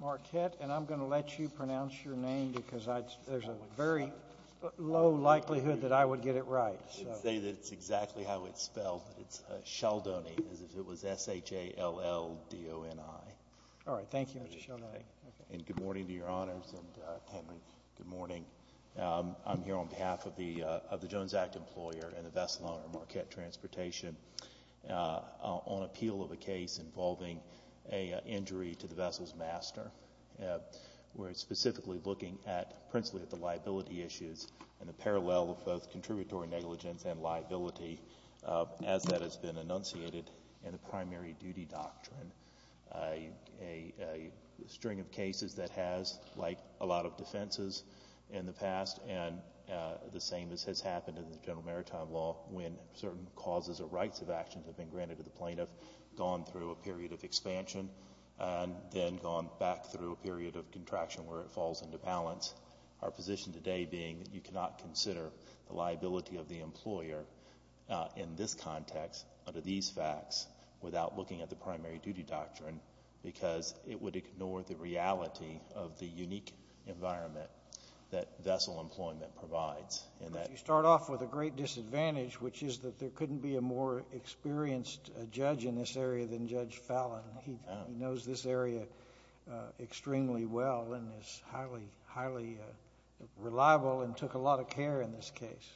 Marquette and I'm going to let you pronounce your name because there's a very low likelihood that I would get it right. I'd say that's exactly how it's spelled. It's Sheldoney as if it was S-H-A-L-L-D-O-N-I. All right, thank you, Mr. Sheldoney. And good morning to your honors and Henry. Good morning. I'm here on behalf of the of the Jones Act employer and the vessel owner Marquette Transportation on appeal of a case involving a injury to the vessel's master. We're specifically looking at principally at the liability issues and the parallel of both contributory negligence and liability as that has been enunciated in the primary duty doctrine. A string of cases that has like a lot of defenses in the past and the same as has happened in the general maritime law when certain causes or granted to the plaintiff gone through a period of expansion and then gone back through a period of contraction where it falls into balance. Our position today being that you cannot consider the liability of the employer in this context under these facts without looking at the primary duty doctrine because it would ignore the reality of the unique environment that vessel employment provides. You start off with a great disadvantage which is that there couldn't be a more experienced judge in this area than Judge Fallon. He knows this area extremely well and is highly, highly reliable and took a lot of care in this case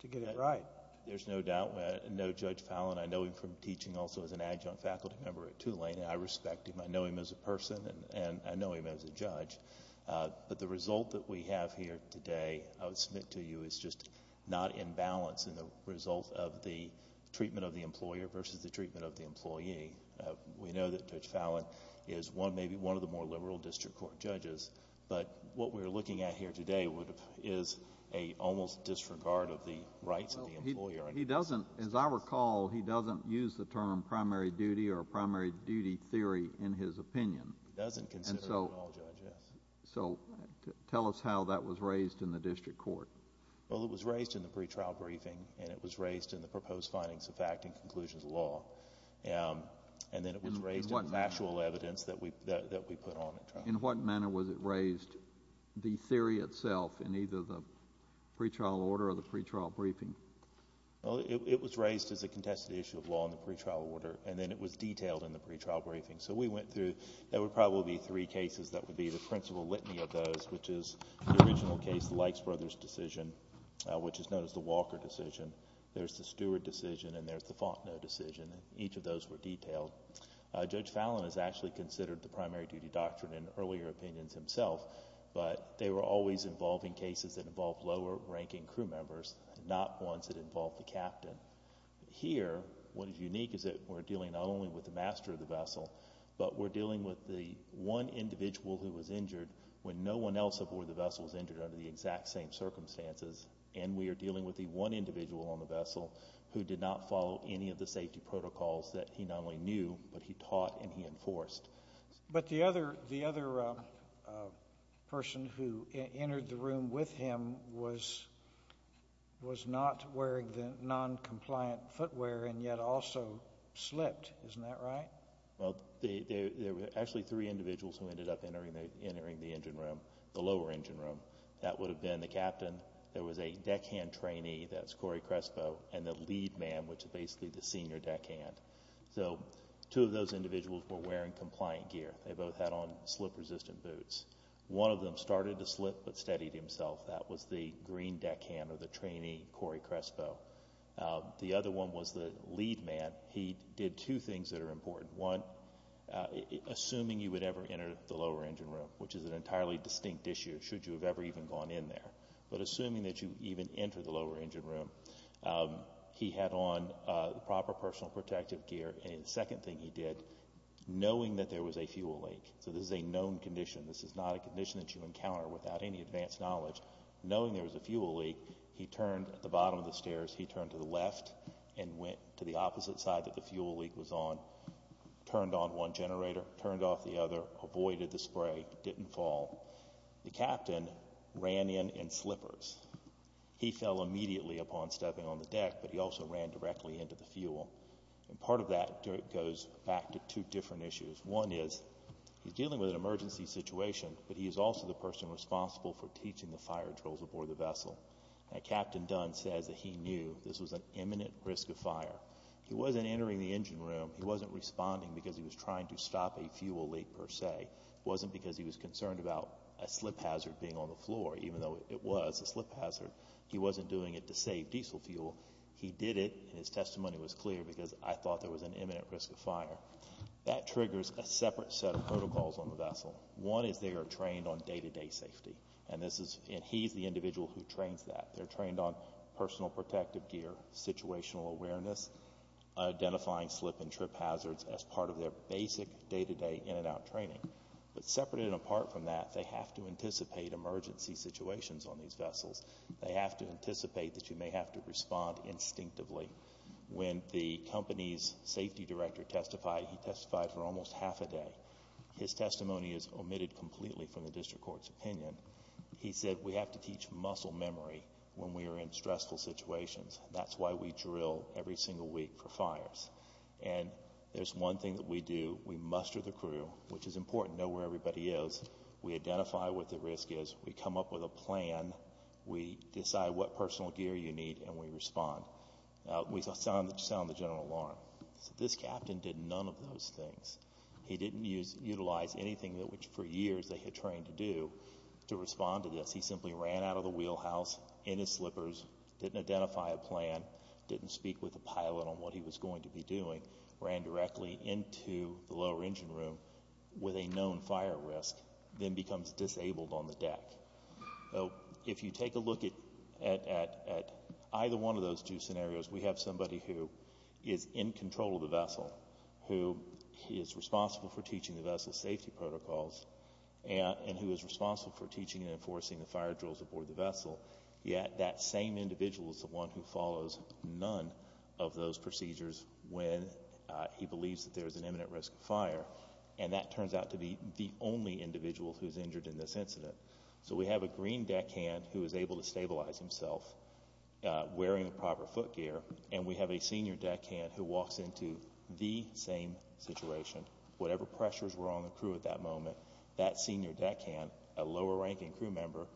to get it right. There's no doubt. I know Judge Fallon. I know him from teaching also as an adjunct faculty member at Tulane. I respect him. I know him as a person and I know him as a judge. But the result that we have here today I would submit to you is just not in balance in the result of the treatment of the employer versus the treatment of the employee. We know that Judge Fallon is one, maybe one of the more liberal district court judges, but what we're looking at here today is a almost disregard of the rights of the employer. He doesn't, as I recall, he doesn't use the term primary duty or primary duty theory in his opinion. He doesn't consider it at all, Judge. So tell us how that was raised in the district court. Well, it was raised in the pretrial briefing and it was raised in the proposed findings of fact and conclusions of law. And then it was raised in factual evidence that we put on. In what manner was it raised, the theory itself, in either the pretrial order or the pretrial briefing? Well, it was raised as a contested issue of law in the pretrial order and then it was detailed in the pretrial briefing. So we went through, there would probably be three cases that would be the principal litany of those, which is the original case, the Likes Brothers decision, which is known as the Walker decision. There's the Stewart decision and there's the Fontenot decision. Each of those were detailed. Judge Fallon has actually considered the primary duty doctrine in earlier opinions himself, but they were always involving cases that involved lower ranking crew members, not ones that involved the captain. Here, what is unique is that we're dealing not only with the master of the vessel, but we're dealing with one individual who was injured when no one else aboard the vessel was injured under the exact same circumstances. And we are dealing with the one individual on the vessel who did not follow any of the safety protocols that he not only knew, but he taught and he enforced. But the other person who entered the room with him was not wearing the non-compliant footwear and yet also slipped, isn't that right? Well, there were actually three individuals who ended up entering the engine room, the lower engine room. That would have been the captain, there was a deckhand trainee, that's Corey Crespo, and the lead man, which is basically the senior deckhand. So two of those individuals were wearing compliant gear. They both had on slip-resistant boots. One of them started to slip but steadied himself. That was the green deckhand or the trainee, Corey Crespo. The other one was the lead man. He did two things that are important. One, assuming you would ever enter the lower engine room, which is an entirely distinct issue should you have ever even gone in there. But assuming that you even enter the lower engine room, he had on proper personal protective gear. And the second thing he did, knowing that there was a fuel leak, so this is a known condition, this is not a condition that you encounter without any advanced knowledge, knowing there's a fuel leak, he turned at the bottom of the stairs, he turned to the left and went to the opposite side that the fuel leak was on, turned on one generator, turned off the other, avoided the spray, didn't fall. The captain ran in in slippers. He fell immediately upon stepping on the deck, but he also ran directly into the fuel. And part of that goes back to two different issues. One is, he's dealing with an emergency situation, but he is also the person responsible for teaching the fire trolls aboard the vessel. Captain Dunn says that he knew this was an imminent risk of fire. He wasn't entering the engine room. He wasn't responding because he was trying to stop a fuel leak per se. It wasn't because he was concerned about a slip hazard being on the floor, even though it was a slip hazard. He wasn't doing it to save diesel fuel. He did it and his testimony was clear because I thought there was an imminent risk of fire. That triggers a separate set of protocols on the vessel. One is they are trained on day-to-day safety. And this is, and he's the individual who trains that. They're trained on personal protective gear, situational awareness, identifying slip and trip hazards as part of their basic day-to-day in and out training. But separate and apart from that, they have to anticipate emergency situations on these vessels. They have to anticipate that you may have to respond instinctively. When the company's safety director testified, he testified for almost half a day. His testimony is omitted completely from the district court's opinion. He said we have to teach muscle memory when we are in stressful situations. That's why we drill every single week for fires. And there's one thing that we do. We muster the crew, which is important. Know where everybody is. We identify what the risk is. We come up with a plan. We decide what personal gear you need and we do that. The captain did none of those things. He didn't utilize anything that which for years they had trained to do to respond to this. He simply ran out of the wheelhouse in his slippers, didn't identify a plan, didn't speak with the pilot on what he was going to be doing, ran directly into the lower engine room with a known fire risk, then becomes disabled on the deck. So if you take a look at either one of those two scenarios, we have somebody who is in control of the vessel, who is responsible for teaching the vessel safety protocols and who is responsible for teaching and enforcing the fire drills aboard the vessel. Yet that same individuals, the one who follows none of those procedures when he believes that there is an imminent risk of fire. And that turns out to be the only individual who is injured in this incident. So we have a green deck hand who is able to stabilize himself wearing the proper foot gear and we have a senior deck hand who walks into the same situation. Whatever pressures were on the crew at that moment, that senior deck hand, a lower ranking crew member,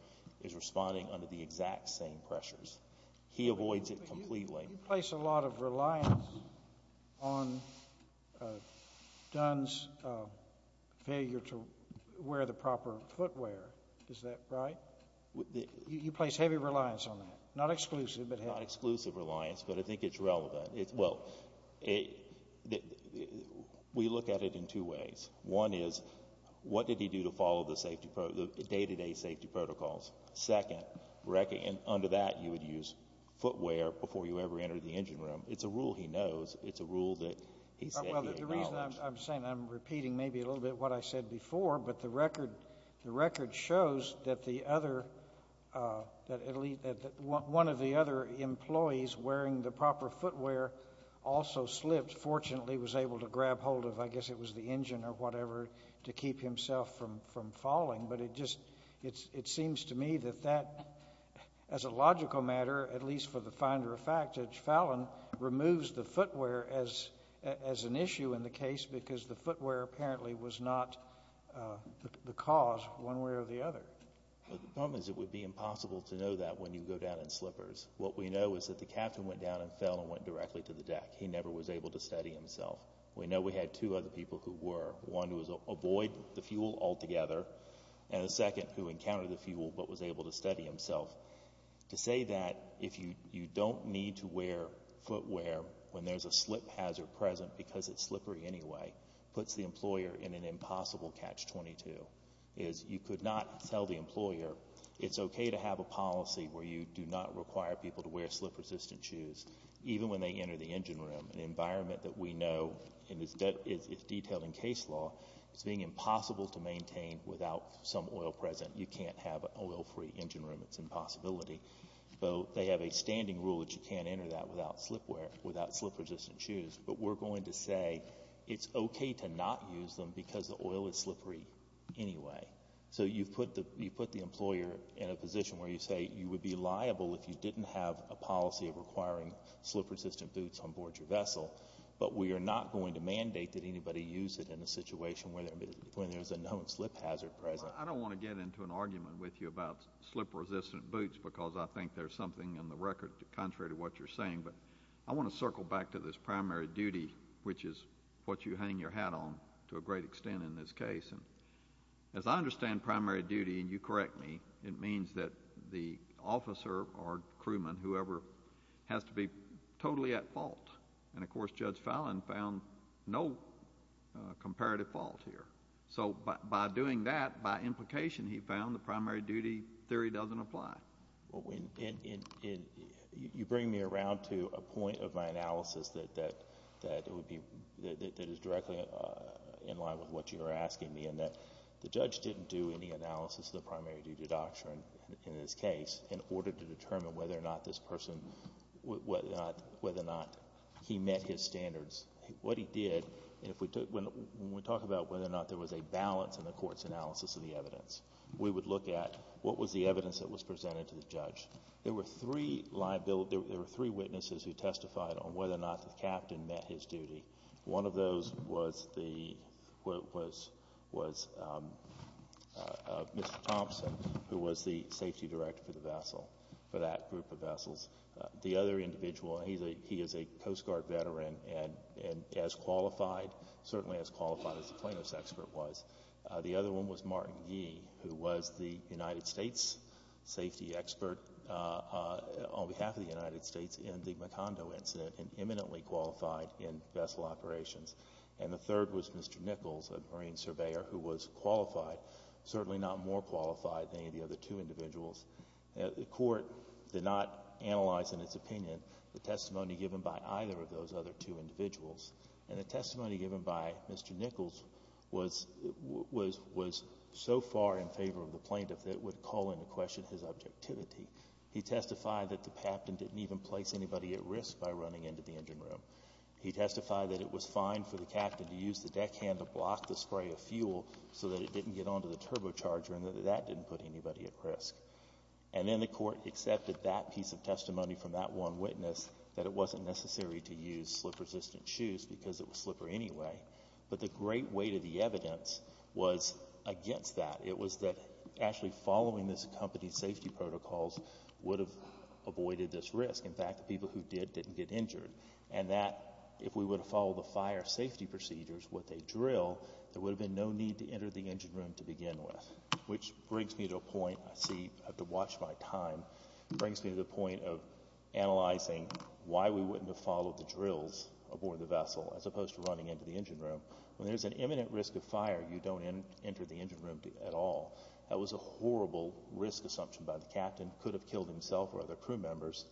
is responding under the exact same pressures. He avoids it completely. You place a lot of reliance on Dunn's failure to wear the proper footwear. Is that right? You place heavy reliance on that. Not exclusive, but not exclusive reliance. But I think it's relevant. Well, we look at it in two ways. One is, what did he do to follow the safety, the day to day safety protocols? Second, under that, you would use footwear before you ever entered the engine room. It's a rule he knows. It's a rule that he said he acknowledged. I'm saying I'm repeating maybe a little bit what I said before, but the record, the record shows that one of the other employees wearing the proper footwear also slipped, fortunately was able to grab hold of, I guess it was the engine or whatever, to keep himself from falling. But it seems to me that that, as a logical matter, at least for the finder of fact, Fallon removes the footwear as an issue in the case because the footwear apparently was not the cause one way or the other. The problem is it would be impossible to know that when you go down in slippers. What we know is that the captain went down and fell and went directly to the deck. He never was able to study himself. We know we had two other people who were one who was avoid the fuel altogether and the second who encountered the fuel but was able to study himself to say that if you you don't need to wear footwear when there's a slip hazard present because it's slippery anyway, puts the employer in an impossible catch. 22 is you could not tell the employer it's okay to have a policy where you do not require people to wear slip resistant shoes even when they enter the engine room, an environment that we know and it's detailed in case law. It's being impossible to maintain without some oil present. You can't have an oil free engine room. It's impossibility. So they have a standing rule that you can't enter that without slip wear, without slip resistant shoes. But we're going to say it's okay to not use them because the oil is slippery anyway. So you've put the you put the employer in a position where you say you would be liable if you didn't have a policy of requiring slip resistant boots on board your vessel. But we are not going to mandate that anybody use it in a situation where there when there's a known slip hazard present. I don't want to get into an argument with you about slip resistant boots because I think there's something in the record contrary to what you're saying. But I want to go back to this primary duty, which is what you hang your hat on to a great extent in this case. And as I understand primary duty, and you correct me, it means that the officer or crewman, whoever, has to be totally at fault. And of course, Judge Fallon found no comparative fault here. So by doing that, by implication, he found the primary duty theory doesn't apply. Well, when you bring me around to a point of my analysis that that that it would be that is directly in line with what you're asking me and that the judge didn't do any analysis of the primary duty doctrine in this case in order to determine whether or not this person, whether or not he met his standards, what he did if we took when we talk about whether or not there was a balance in the court's analysis of the evidence, we would look at what was the evidence that was presented to the judge. There were three liability. There were three witnesses who testified on whether or not the captain met his duty. One of those was the was was, um, uh, Mr Thompson, who was the safety director for the vessel for that group of vessels. The other individual, and he's a he is a Coast Guard veteran and as qualified, certainly as qualified as the safety expert on behalf of the United States in the Macondo incident and imminently qualified in vessel operations. And the third was Mr Nichols, a marine surveyor who was qualified, certainly not more qualified than any of the other two individuals. The court did not analyze, in its opinion, the testimony given by either of those other two individuals. And the testimony given by Mr Nichols was was was so far in favor of the plaintiff that would call into question his objectivity. He testified that the captain didn't even place anybody at risk by running into the engine room. He testified that it was fine for the captain to use the deckhand to block the spray of fuel so that it didn't get onto the turbocharger and that didn't put anybody at risk. And then the court accepted that piece of testimony from that one witness that it wasn't necessary to use slip resistant shoes because it was slippery anyway. But the great weight of the evidence was against that. It was that actually following this company's safety protocols would have avoided this risk. In fact, the people who did didn't get injured and that if we would follow the fire safety procedures with a drill, there would have been no need to enter the engine room to begin with, which brings me to a point I see have to watch my time brings me to the point of analyzing why we wouldn't have followed the drills aboard the vessel as opposed to running into the engine room. When there's an imminent risk of fire, you don't enter the engine room at all. That was a horrible risk assumption by the captain. Could have killed himself or other crew members.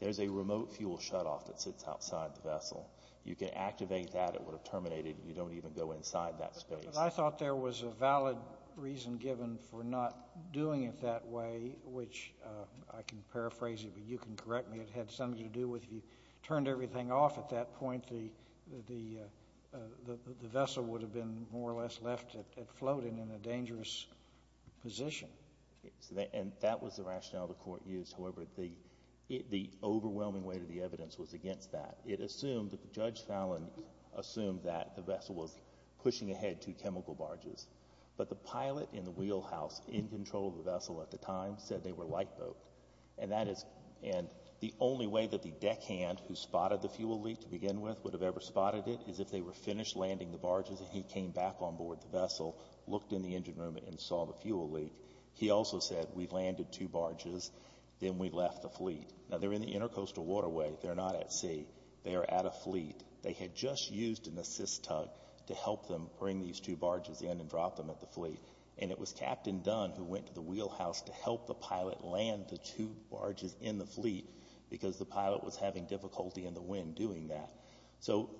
There's a remote fuel shutoff that sits outside the vessel. You can activate that. It would have terminated. You don't even go inside that space. I thought there was a valid reason given for not doing it that way, which I can paraphrase it, but you can correct me. It had something to do with you turned everything off at that point. The floating in a dangerous position. And that was the rationale the court used. However, the overwhelming weight of the evidence was against that. It assumed that Judge Fallon assumed that the vessel was pushing ahead to chemical barges, but the pilot in the wheelhouse in control of the vessel at the time said they were light boat and that is and the only way that the deckhand who spotted the fuel leak to begin with would have ever spotted it is if they were finished landing the barges and he came back on board the vessel, looked in the engine room and saw the fuel leak. He also said we've landed two barges. Then we left the fleet. Now they're in the intercoastal waterway. They're not at sea. They're at a fleet. They had just used an assist tug to help them bring these two barges in and drop them at the fleet. And it was Captain Dunn who went to the wheelhouse to help the pilot land the two barges in the fleet because the pilot was having difficulty in the wind doing that. So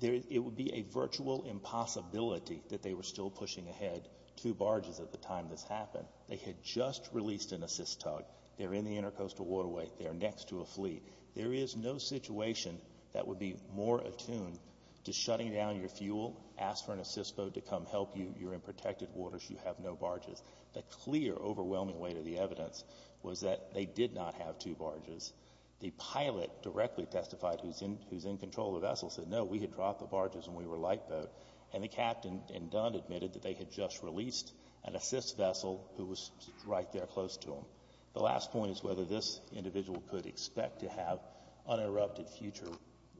it would be a virtual impossibility that they were still pushing ahead two barges at the time this happened. They had just released an assist tug. They're in the intercoastal waterway. They're next to a fleet. There is no situation that would be more attuned to shutting down your fuel, ask for an assist boat to come help you. You're in protected waters. You have no barges. The clear overwhelming weight of the evidence was that they did not have two barges. The pilot directly testified who's in control of the vessel said, no, we had dropped the barges and we were light boat. And the captain and Dunn admitted that they had just released an assist vessel who was right there close to him. The last point is whether this individual could expect to have uninterrupted future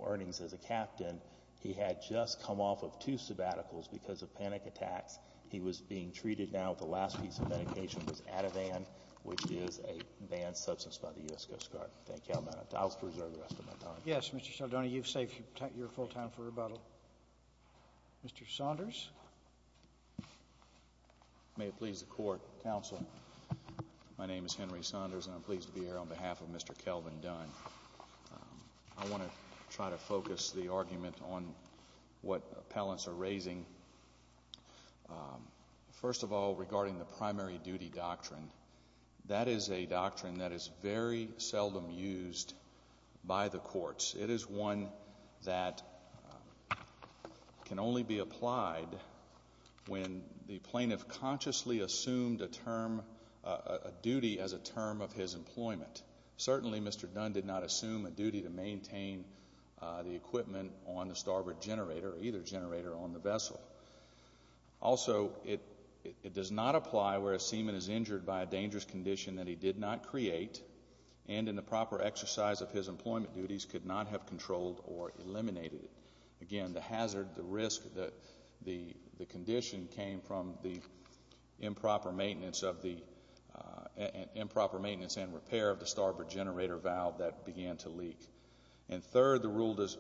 earnings as a captain. He had just come off of two sabbaticals because of panic attacks. He was being treated now. The last piece of medication was Ativan, which is a banned substance by the U.S. Coast Guard. Thank you. I'll reserve the rest of my time. Yes, Mr. Cialdoni, you've saved your full time for rebuttal. Mr. Saunders. May it please the court. Counsel. My name is Henry Saunders, and I'm pleased to be here on behalf of Mr Kelvin Dunn. I want to try to focus the argument on what appellants are raising. Um, first of all, regarding the primary duty doctrine, that is a doctrine that is very seldom used by the courts. It is one that can only be applied when the plaintiff consciously assumed a term duty as a term of his employment. Certainly, Mr Dunn did not assume a duty to maintain the equipment on the starboard generator, either generator on the vessel. Also, it it does not apply where a seaman is injured by a dangerous condition that he did not create and in the proper exercise of his employment duties could not have controlled or eliminated. Again, the hazard, the risk that the condition came from the improper maintenance of the improper maintenance and repair of the starboard generator valve that began to leak. And third, the rule does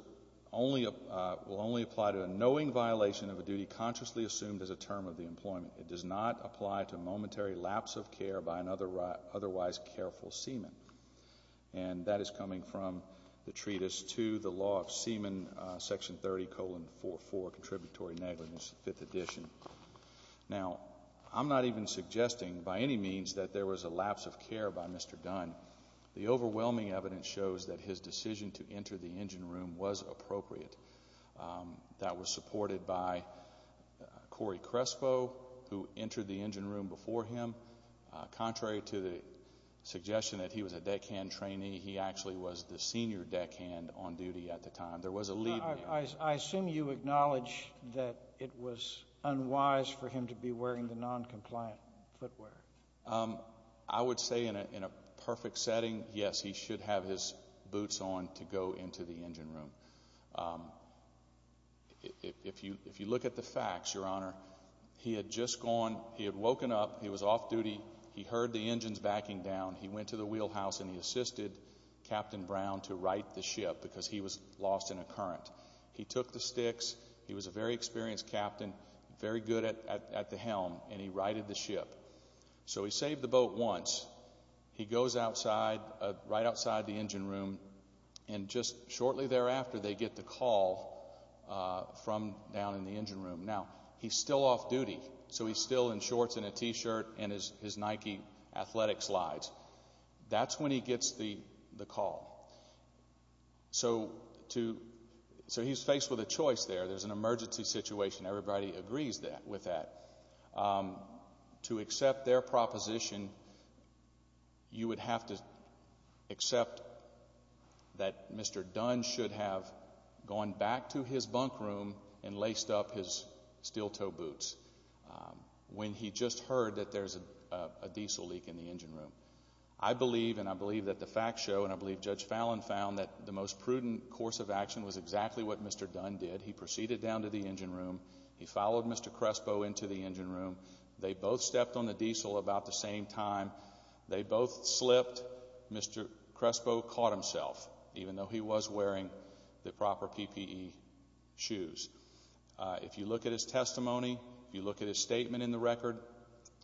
only will only apply to a knowing violation of a duty consciously assumed as a term of the employment. It does not apply to momentary lapse of care by another otherwise careful seaman. And that is coming from the treatise to the law of seaman section 30 colon 44 contributory negligence. Fifth edition. Now, I'm not even suggesting by any means that there was a lapse of care by Mr Dunn. The overwhelming evidence shows that his decision to enter the engine room was appropriate. Um, that was supported by Corey Crespo, who entered the engine room before him. Contrary to the suggestion that he was a deckhand trainee, he actually was the senior deckhand on duty at the time. There was a lead. I assume you acknowledge that it was unwise for him to be wearing the noncompliant footwear. Um, I would say in a in a perfect setting, yes, he should have his boots on to go into the engine room. Um, if you if you look at the facts, Your Honor, he had just gone. He had woken up. He was off duty. He heard the engines backing down. He went to the wheelhouse and he assisted Captain Brown to write the ship because he was lost in a current. He took the sticks. He was a very experienced captain, very good at at the helm, and he righted the ship. So he saved the boat once he goes outside right outside the engine room, and just shortly thereafter, they get the call from down in the engine room. Now he's still off duty, so he's still in shorts and a T shirt and his his Nike athletic slides. That's when he gets the call. So to so he's faced with a choice there. There's an emergency situation. Everybody agrees that with that, um, to accept their proposition, you would have to accept that Mr Dunn should have gone back to his bunk room and laced up his steel toe boots when he just heard that there's a diesel leak in the engine room. I believe and I believe that the facts show, and I believe Judge Fallon found that the most prudent course of action was exactly what Mr Dunn did. He proceeded down to the engine room. He followed Mr Crespo into the engine room. They both stepped on the diesel about the same time. They both slipped. Mr Crespo caught himself, even though he was wearing the proper PPE shoes. If you look at his testimony, you look at his statement in the record.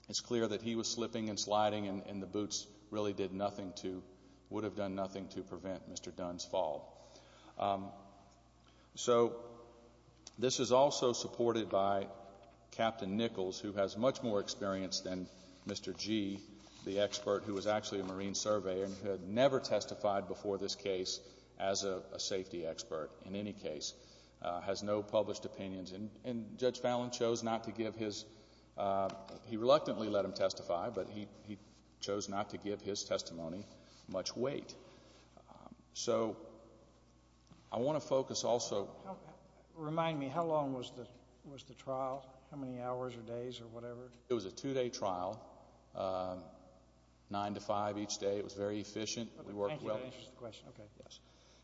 It's clear that he was slipping and sliding, and the boots really did nothing to would have done nothing to prevent Mr Dunn's fall. Um, so this is also supported by Captain Nichols, who has much more experience than Mr G, the expert who was actually a marine survey and had never testified before this case as a safety expert. In any case, has no published opinions. And Judge Fallon chose not to give his, uh, he reluctantly let him testify, but he chose not to give his testimony much weight. So I want to focus also remind me how long was the was the trial? How many hours or days or whatever? It was a two day trial. Uh, 9 to 5 each day. It was very efficient. We worked well. Yes.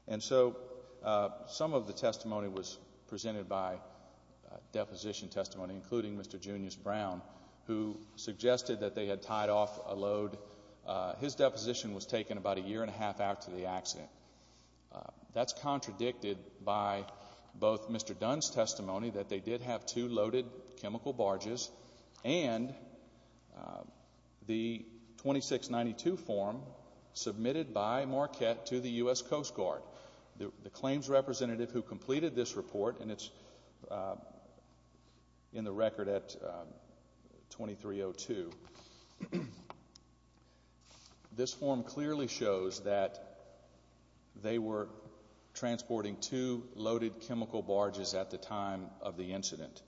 And so, uh, some of the testimony was presented by deposition testimony, including Mr Junius Brown, who accident. That's contradicted by both Mr Dunn's testimony that they did have two loaded chemical barges and, uh, the 26 92 form submitted by Marquette to the U. S. Coast Guard. The claims representative who completed this report and it's, uh, in the record at 23 oh, to this form clearly shows that they were transporting to loaded chemical barges at the time of the incident.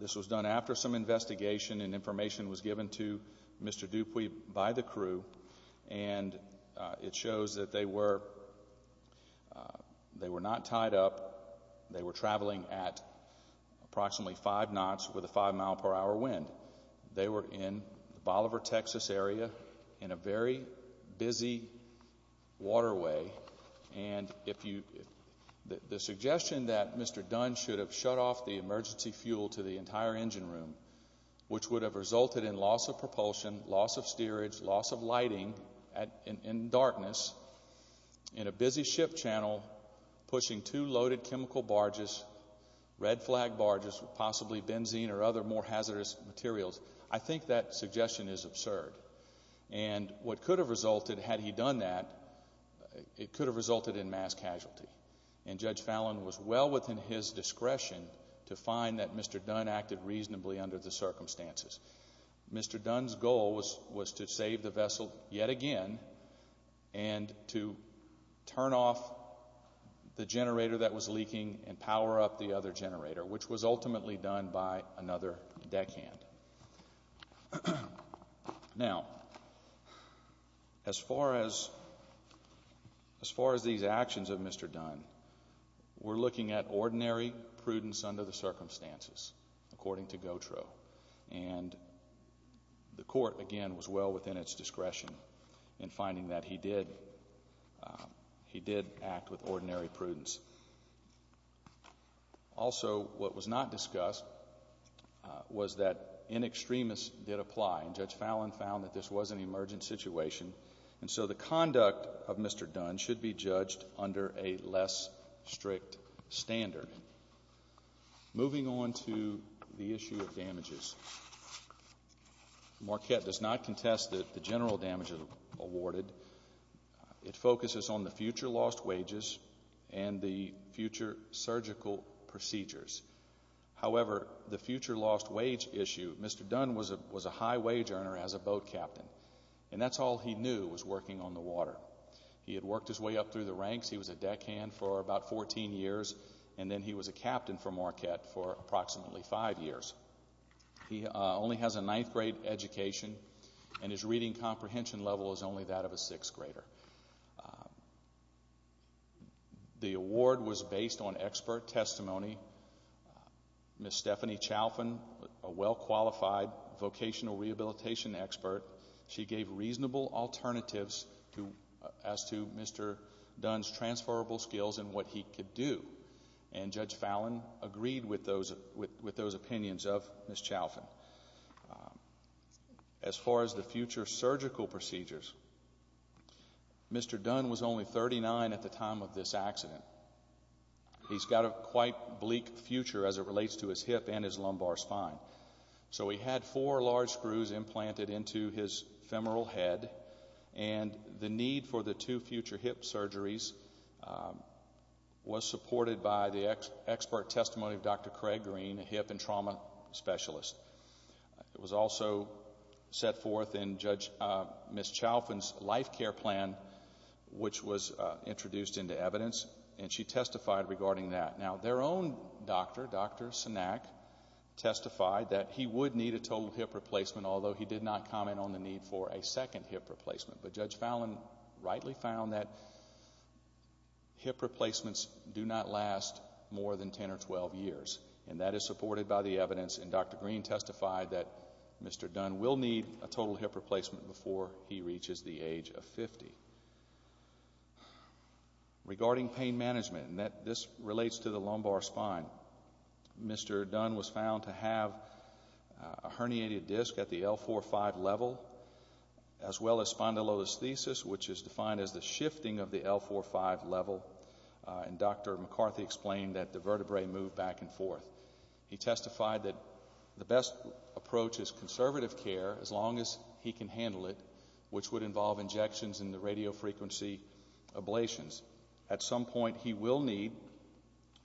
This was done after some investigation and information was given to Mr Dupuy by the crew, and it shows that they were they were not tied up. They were traveling at approximately five knots with a five mile per hour wind. They were in the Bolivar, Texas area in a very busy waterway. And if you the suggestion that Mr Dunn should have shut off the emergency fuel to the entire engine room, which would have resulted in loss of propulsion, loss of steerage, loss of lighting in darkness in a busy ship channel, pushing two loaded chemical barges, red flag barges, possibly benzene or other more hazardous materials. I think that suggestion is absurd. And what could have resulted had he done that, it could have resulted in mass casualty. And Judge Fallon was well within his discretion to find that Mr Dunn acted reasonably under the circumstances. Mr Dunn's goal was was to save the vessel yet again and to turn off the generator that was leaking and power up the other generator, which was ultimately done by another deckhand. Now, as far as as far as these actions of Mr Dunn, we're looking at ordinary prudence under the circumstances, according to Gautreaux. And the court again was well within its discretion in finding that he did. He did act with ordinary prudence. Also, what was not discussed was that in extremists did apply. Judge Fallon found that this was an emergent situation. And so the conduct of Mr Dunn should be judged under a less strict standard. Moving on to the issue of damages, Marquette does not contest that the general damages awarded. It focuses on the future lost wages and the future surgical procedures. However, the future lost wage issue, Mr Dunn was a was a high wage earner as a boat captain, and that's all he knew was working on the water. He had worked his way up through the ranks. He was a deckhand for about 14 years, and then he was a captain for Marquette for approximately five years. He only has a ninth grade education, and his reading comprehension level is only that of a sixth grader. The award was based on expert testimony. Miss Stephanie Chalfin, a well qualified vocational rehabilitation expert. She gave reasonable alternatives to as to Mr Dunn's transferable skills and what he could do. And Judge Fallon agreed with those with those opinions of Miss Chalfin as far as the future surgical procedures. Mr Dunn was only 39 at the time of this accident. He's got a quite bleak future as it relates to his hip and his lumbar spine. So we had four large screws implanted into his femoral head and the need for the two future hip surgeries. Was supported by the expert testimony of Dr Craig Green, a hip and trauma specialist. It was also set forth in Judge Miss Chalfin's life care plan, which was introduced into evidence, and she testified regarding that. Now, their own doctor, Dr Sanak, testified that he would need a total hip replacement, although he did not comment on the need for a second hip replacement. But Judge Fallon rightly found that hip replacements do not last more than 10 or 12 years, and that is supported by the evidence. And Dr Green testified that Mr Dunn will need a total hip replacement before he reaches the age of 50. Regarding pain management and that this relates to the lumbar spine, Mr Dunn was found to have a herniated disc at the L45 level as well as spondylolisthesis, which is defined as the shifting of the L45 level. And Dr McCarthy explained that the vertebrae moved back and forth. He testified that the best approach is conservative care as long as he can handle it, which would involve injections in the radio frequency ablations. At some point, he will need,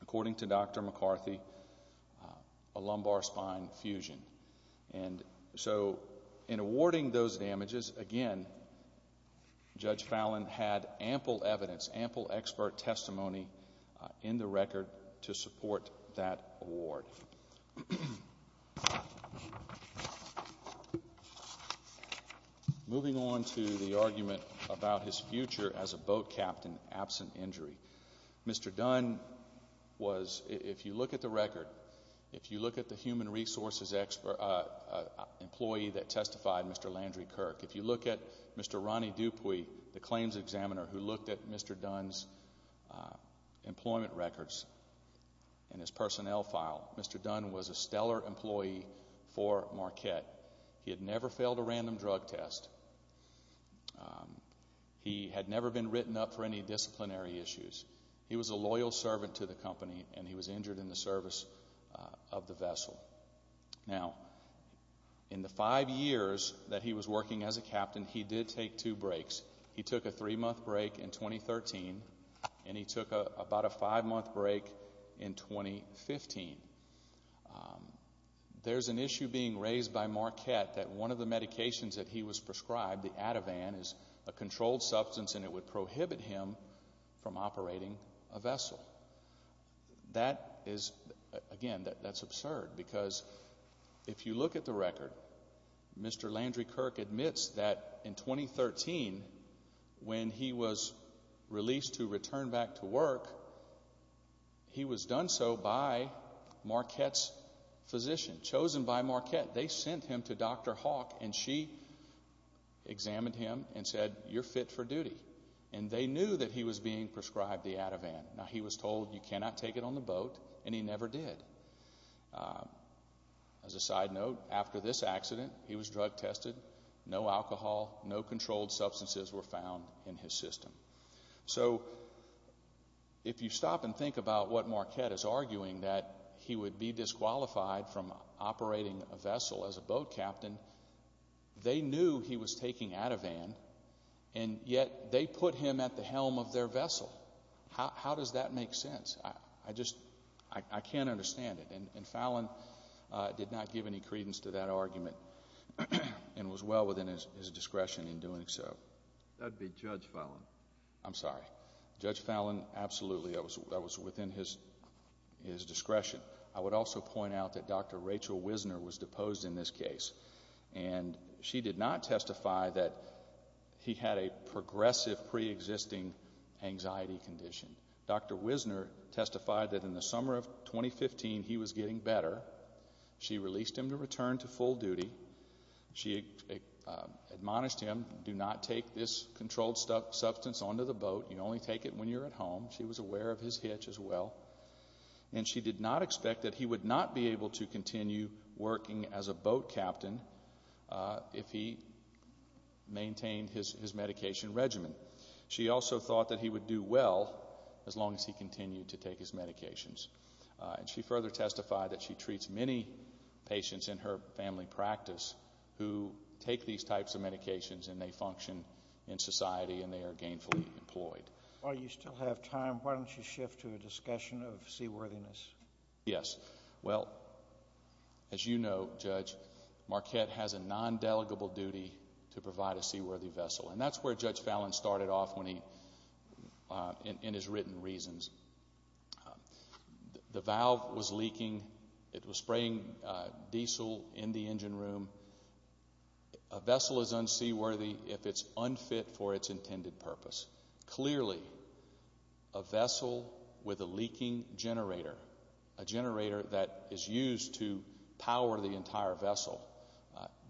according to Dr Dunn, a lumbar spine fusion. And so, in awarding those damages, again, Judge Fallon had ample evidence, ample expert testimony in the record to support that award. Moving on to the argument about his future as a boat captain absent injury, Mr Dunn was, if you look at the record, if you look at the human resources expert employee that testified, Mr Landry Kirk, if you look at Mr Ronnie Dupuy, the claims examiner who looked at Mr Dunn's employment records and his personnel file, Mr Dunn was a stellar employee for Marquette. He had never failed a random drug test. Um, he had never been written up for any disciplinary issues. He was a loyal servant to the company, and he was injured in the service of the vessel. Now, in the five years that he was working as a captain, he did take two breaks. He took a three month break in 2013, and he took about a five month break in 2015. There's an issue being raised by Marquette that one of the medications that he was prescribed the Ativan is a controlled substance, and it would prohibit him from operating a vessel. That is again that that's absurd, because if you look at the record, Mr Landry Kirk admits that in 2013 when he was released to return back to work, he was done so by Marquette's physician chosen by Marquette. They sent him to Dr Hawk, and she examined him and said, You're fit for duty, and they knew that he was being prescribed the Ativan. Now, he was told you cannot take it on the boat, and he never did. As a side note, after this accident, he was drug tested. No alcohol, no controlled substances were found in his system. So if you stop and think about what Marquette is arguing, that he would be they knew he was taking Ativan, and yet they put him at the helm of their vessel. How does that make sense? I just I can't understand it. And Fallon did not give any credence to that argument and was well within his discretion in doing so. That would be Judge Fallon. I'm sorry. Judge Fallon. Absolutely. I was. I was within his discretion. I would also point out that Dr Rachel Wisner was deposed in this case, and she did not testify that he had a progressive pre existing anxiety condition. Dr Wisner testified that in the summer of 2015 he was getting better. She released him to return to full duty. She admonished him. Do not take this controlled stuff substance onto the boat. You only take it when you're at home. She was aware of his ability to continue working as a boat captain if he maintained his medication regimen. She also thought that he would do well as long as he continued to take his medications, and she further testified that she treats many patients in her family practice who take these types of medications, and they function in society, and they are gainfully employed. While you still have time, why don't you shift to a discussion of seaworthiness? Yes. Well, as you know, Judge Marquette has a non delegable duty to provide a seaworthy vessel, and that's where Judge Fallon started off when he, uh, in his written reasons, the valve was leaking. It was spraying diesel in the engine room. A vessel is unseaworthy if it's unfit for its intended purpose. Clearly, a vessel with a leaking generator, a generator that is used to power the entire vessel.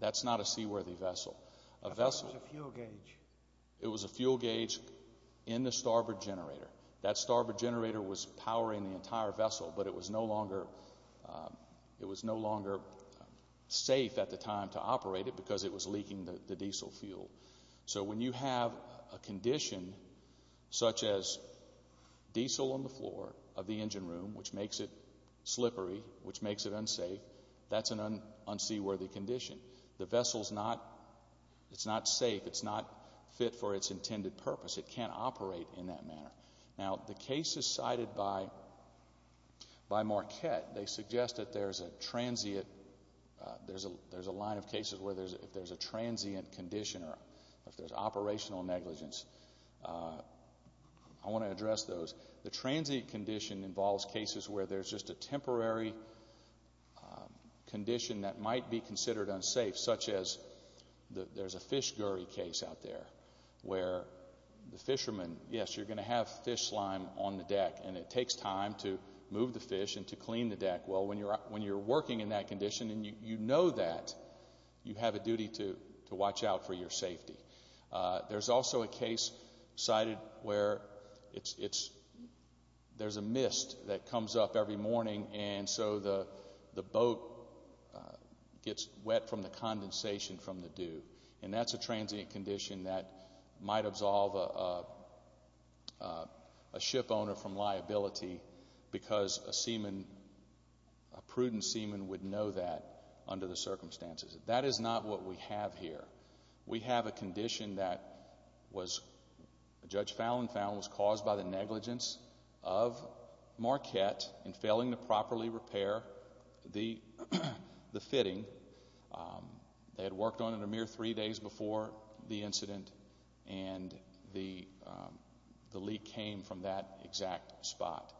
That's not a seaworthy vessel. A vessel fuel gauge. It was a fuel gauge in the starboard generator. That starboard generator was powering the entire vessel, but it was no longer. It was no longer safe at the time to operate it because it was leaking the diesel fuel. So when you have a vessel such as diesel on the floor of the engine room, which makes it slippery, which makes it unsafe, that's an unseaworthy condition. The vessel's not, it's not safe. It's not fit for its intended purpose. It can't operate in that manner. Now, the cases cited by by Marquette, they suggest that there's a transient. There's a line of cases where there's if there's a transient condition or if there's operational negligence. I want to address those. The transient condition involves cases where there's just a temporary condition that might be considered unsafe, such as there's a fish gurry case out there where the fishermen, yes, you're gonna have fish slime on the deck and it takes time to move the fish and to clean the deck. Well, when you're when you're working in that condition and you know that you have a safety, there's also a case cited where it's it's there's a mist that comes up every morning. And so the the boat gets wet from the condensation from the dew. And that's a transient condition that might absolve a ship owner from liability because a seaman, a prudent seaman would know that under the circumstances. That is not what we have here. We have a condition that was Judge Fallon found was caused by the negligence of Marquette and failing to properly repair the the fitting. Um, they had worked on in a mere three days before the incident, and the the leak came from that exact spot.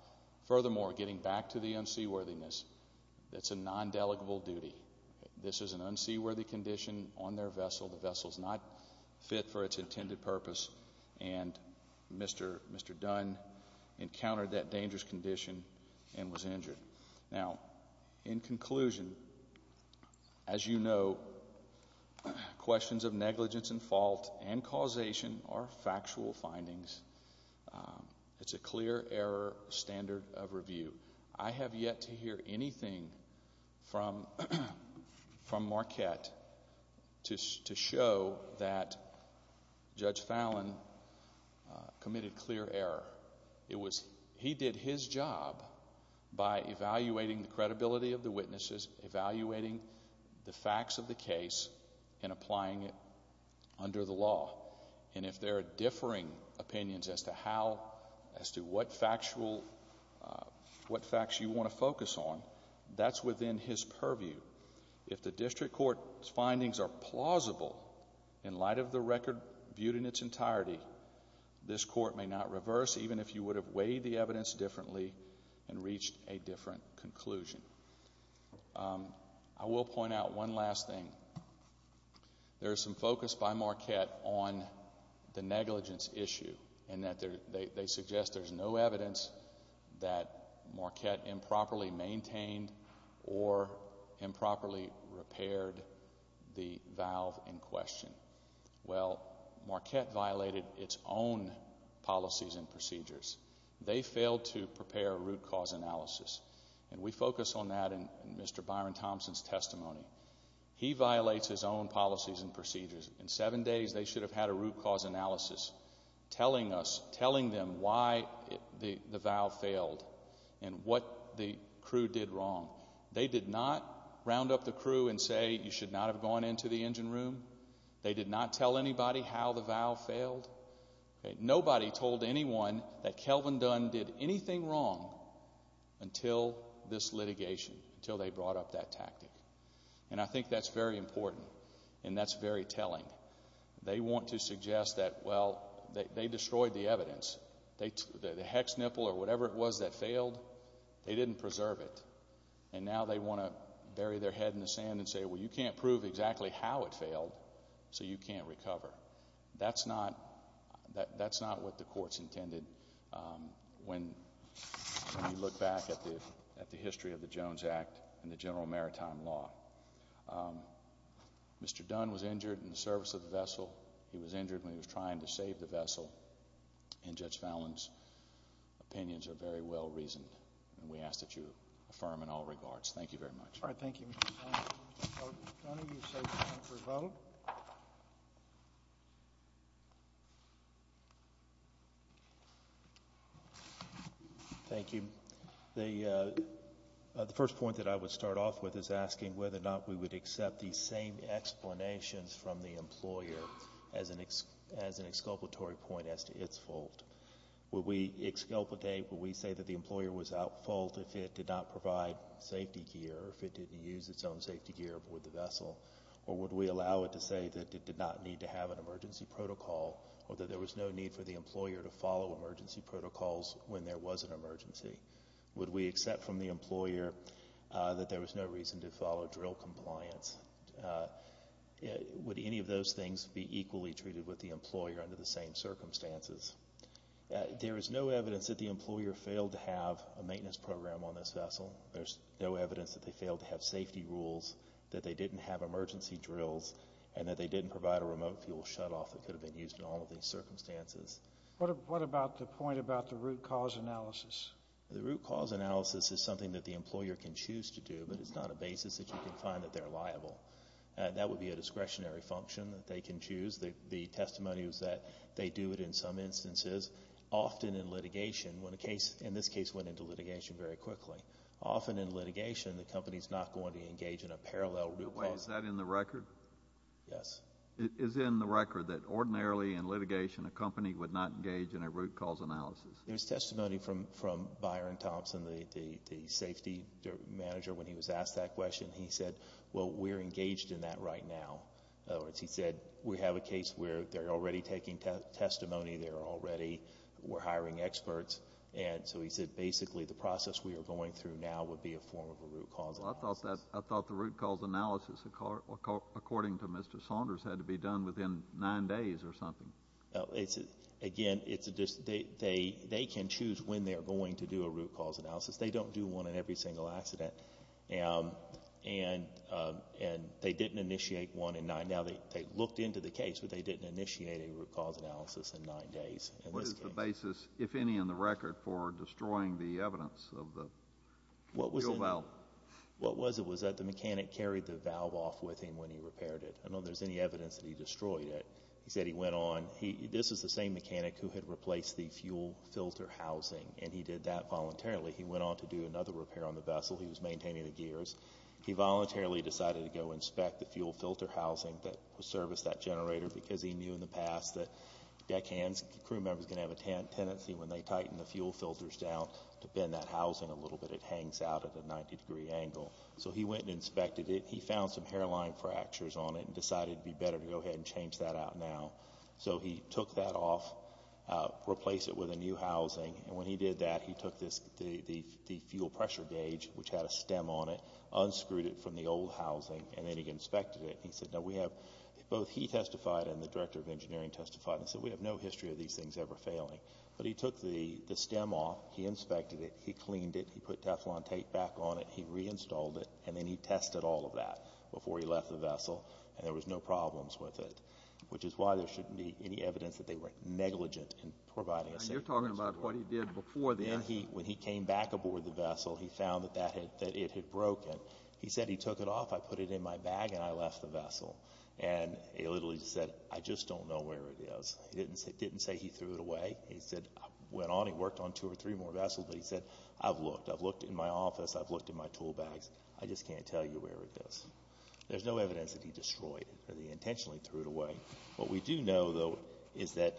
Furthermore, getting back to the unseaworthiness, that's a non delegable duty. This is an unseaworthy condition on their vessel. The vessels not fit for its intended purpose. And Mr. Mr. Dunn encountered that dangerous condition and was injured. Now, in conclusion, as you know, questions of of review. I have yet to hear anything from from Marquette to show that Judge Fallon committed clear error. It was he did his job by evaluating the credibility of the witnesses, evaluating the facts of the case and applying it under the law. And if there are differing opinions as to how as to what factual what facts you want to focus on, that's within his purview. If the district court findings are plausible in light of the record viewed in its entirety, this court may not reverse, even if you would have weighed the evidence differently and reached a different conclusion. Um, I will point out one last thing. There's some focus by Marquette on the negligence issue, and that they suggest there's no evidence that Marquette improperly maintained or improperly repaired the valve in question. Well, Marquette violated its own policies and procedures. They failed to prepare a root cause analysis, and we focus on that. And Mr Byron Thompson's testimony, he violates his own policies and procedures. In seven days, they should have had a root cause analysis telling us, telling them why the valve failed and what the crew did wrong. They did not round up the crew and say you should not have gone into the engine room. They did not tell anybody how the valve failed. Nobody told anyone that Kelvin Dunn did anything wrong until this litigation, until they brought up that tactic. And I think that's very important, and that's very telling. They want to suggest that, well, they destroyed the evidence. The hex nipple or whatever it was that failed, they didn't preserve it. And now they want to bury their head in the sand and say, well, you can't prove exactly how it failed, so you can't recover. That's not, that's not what the court's intended. Um, when you look back at the history of the Jones Act and the general maritime law, um, Mr Dunn was injured in the service of the vessel. He was injured when he was trying to save the vessel. And Judge Fallon's opinions are very well reasoned, and we ask that you affirm in all regards. Thank you very much. All right. Thank you, Mr. Vote. Thank you. The first point that I would start off with is asking whether or not we would accept the same explanations from the employer as an as an exculpatory point as to its fault. Will we exculpate? Will we say that the employer was out fault if it did not provide safety gear, if it didn't use its own safety gear aboard the vessel? Or would we allow it to say that it did not need to have an emergency protocol or that there was no need for the lawyer to follow emergency protocols when there was an emergency? Would we accept from the employer that there was no reason to follow drill compliance? Would any of those things be equally treated with the employer under the same circumstances? There is no evidence that the employer failed to have a maintenance program on this vessel. There's no evidence that they failed to have safety rules that they didn't have emergency drills and that they didn't provide a remote fuel shut off that could have been used in all of these circumstances. What about the point about the root cause analysis? The root cause analysis is something that the employer can choose to do, but it's not a basis that you can find that they're liable. That would be a discretionary function that they can choose. The testimony was that they do it in some instances, often in litigation, when a case, in this case, went into litigation very quickly. Often in litigation, the company's not going to engage in a parallel root cause. Is that in the record? Yes. It is in the record that ordinarily in litigation, a company would not engage in a root cause analysis. There's testimony from from Byron Thompson, the safety manager. When he was asked that question, he said, Well, we're engaged in that right now. He said, We have a case where they're already taking testimony. They're already were hiring experts. And so he said, Basically, the process we are going through now would be a form of a root cause. I thought that I thought the root cause analysis, according to Mr Saunders, had to be done within nine days or something. It's again, it's just they they they can choose when they're going to do a root cause analysis. They don't do one in every single accident. And and and they didn't initiate one in nine. Now, they looked into the case, but they didn't initiate a root cause analysis in nine days. What is the basis, if any, in the record for destroying the evidence of the what was it? Well, what was it was that the mechanic carried the valve off with him when he repaired it? I don't know. There's any evidence that he destroyed it. He said he went on. This is the same mechanic who had replaced the fuel filter housing, and he did that voluntarily. He went on to do another repair on the vessel. He was maintaining the gears. He voluntarily decided to go inspect the fuel filter housing that was service that generator because he knew in the past that deck hands crew members gonna have a tendency when they tighten the fuel filters down to bend that housing a little bit. It hangs out of the 90 degree angle. So he went and inspected it. He found some hairline fractures on it and decided it'd be better to go ahead and change that out now. So he took that off, replace it with a new housing. And when he did that, he took this the fuel pressure gauge, which had a stem on it, unscrewed it from the old housing, and then he inspected it. He said, No, we have both. He testified and the director of engineering testified. So we have no history of these things ever failing. But he took the stem off. He inspected it. He cleaned it. He put Teflon tape back on it. He reinstalled it, and then he tested all of that before he left the vessel, and there was no problems with it, which is why there shouldn't be any evidence that they were negligent in providing. You're talking about what he did before. Then he when he came back aboard the vessel, he found that that had that it had broken. He said he took it off. I put it in my bag and I left the vessel. And he literally said, I just don't know where it is. He didn't say didn't say he threw it away. He said went on. He worked on two or three more vessels, but he said, I've looked. I've looked in my office. I've looked in my tool bags. I just can't tell you where it is. There's no evidence that he destroyed it. He intentionally threw it away. What we do know, though, is that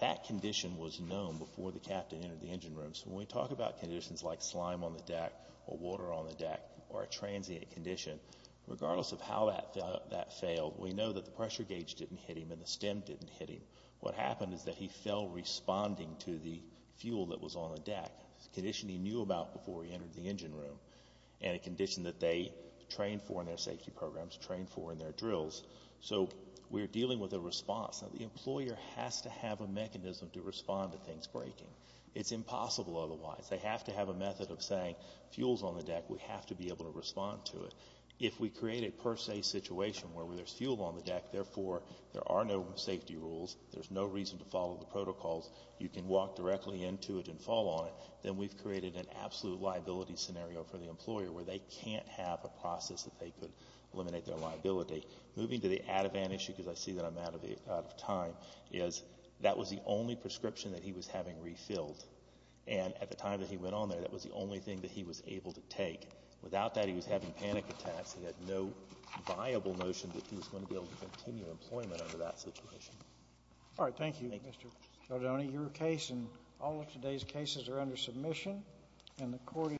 that condition was known before the captain entered the engine room. So when we talk about conditions like slime on the deck or water on the deck or a transient condition, regardless of how that that failed, we know that the pressure gauge didn't hit him and the stem didn't hit him. What happened is that he fell, responding to the fuel that was on the deck condition he knew about before he entered the engine room and a condition that they trained for in their safety programs trained for in their drills. So we're dealing with a response that the employer has to have a mechanism to respond to things breaking. It's impossible. Otherwise, they have to have a method of saying fuels on the deck. We have to be able to respond to it. If we create a per se situation where there's fuel on the deck, therefore, there are no safety rules. There's no reason to follow the protocols. You can walk directly into it and fall on it. Then we've created an absolute liability scenario for the employer where they can't have a process that they could eliminate their liability. Moving to the Ativan issue, because I see that I'm out of time, is that was the only prescription that he was having refilled. And at the time that he went on there, that was the only thing that he was able to take. Without that, he was having panic attacks. He had no viable notion that he was going to be able to continue employment under that situation. All right. Thank you, Mr. Cardone. Your case and all of today's cases are under submission and the court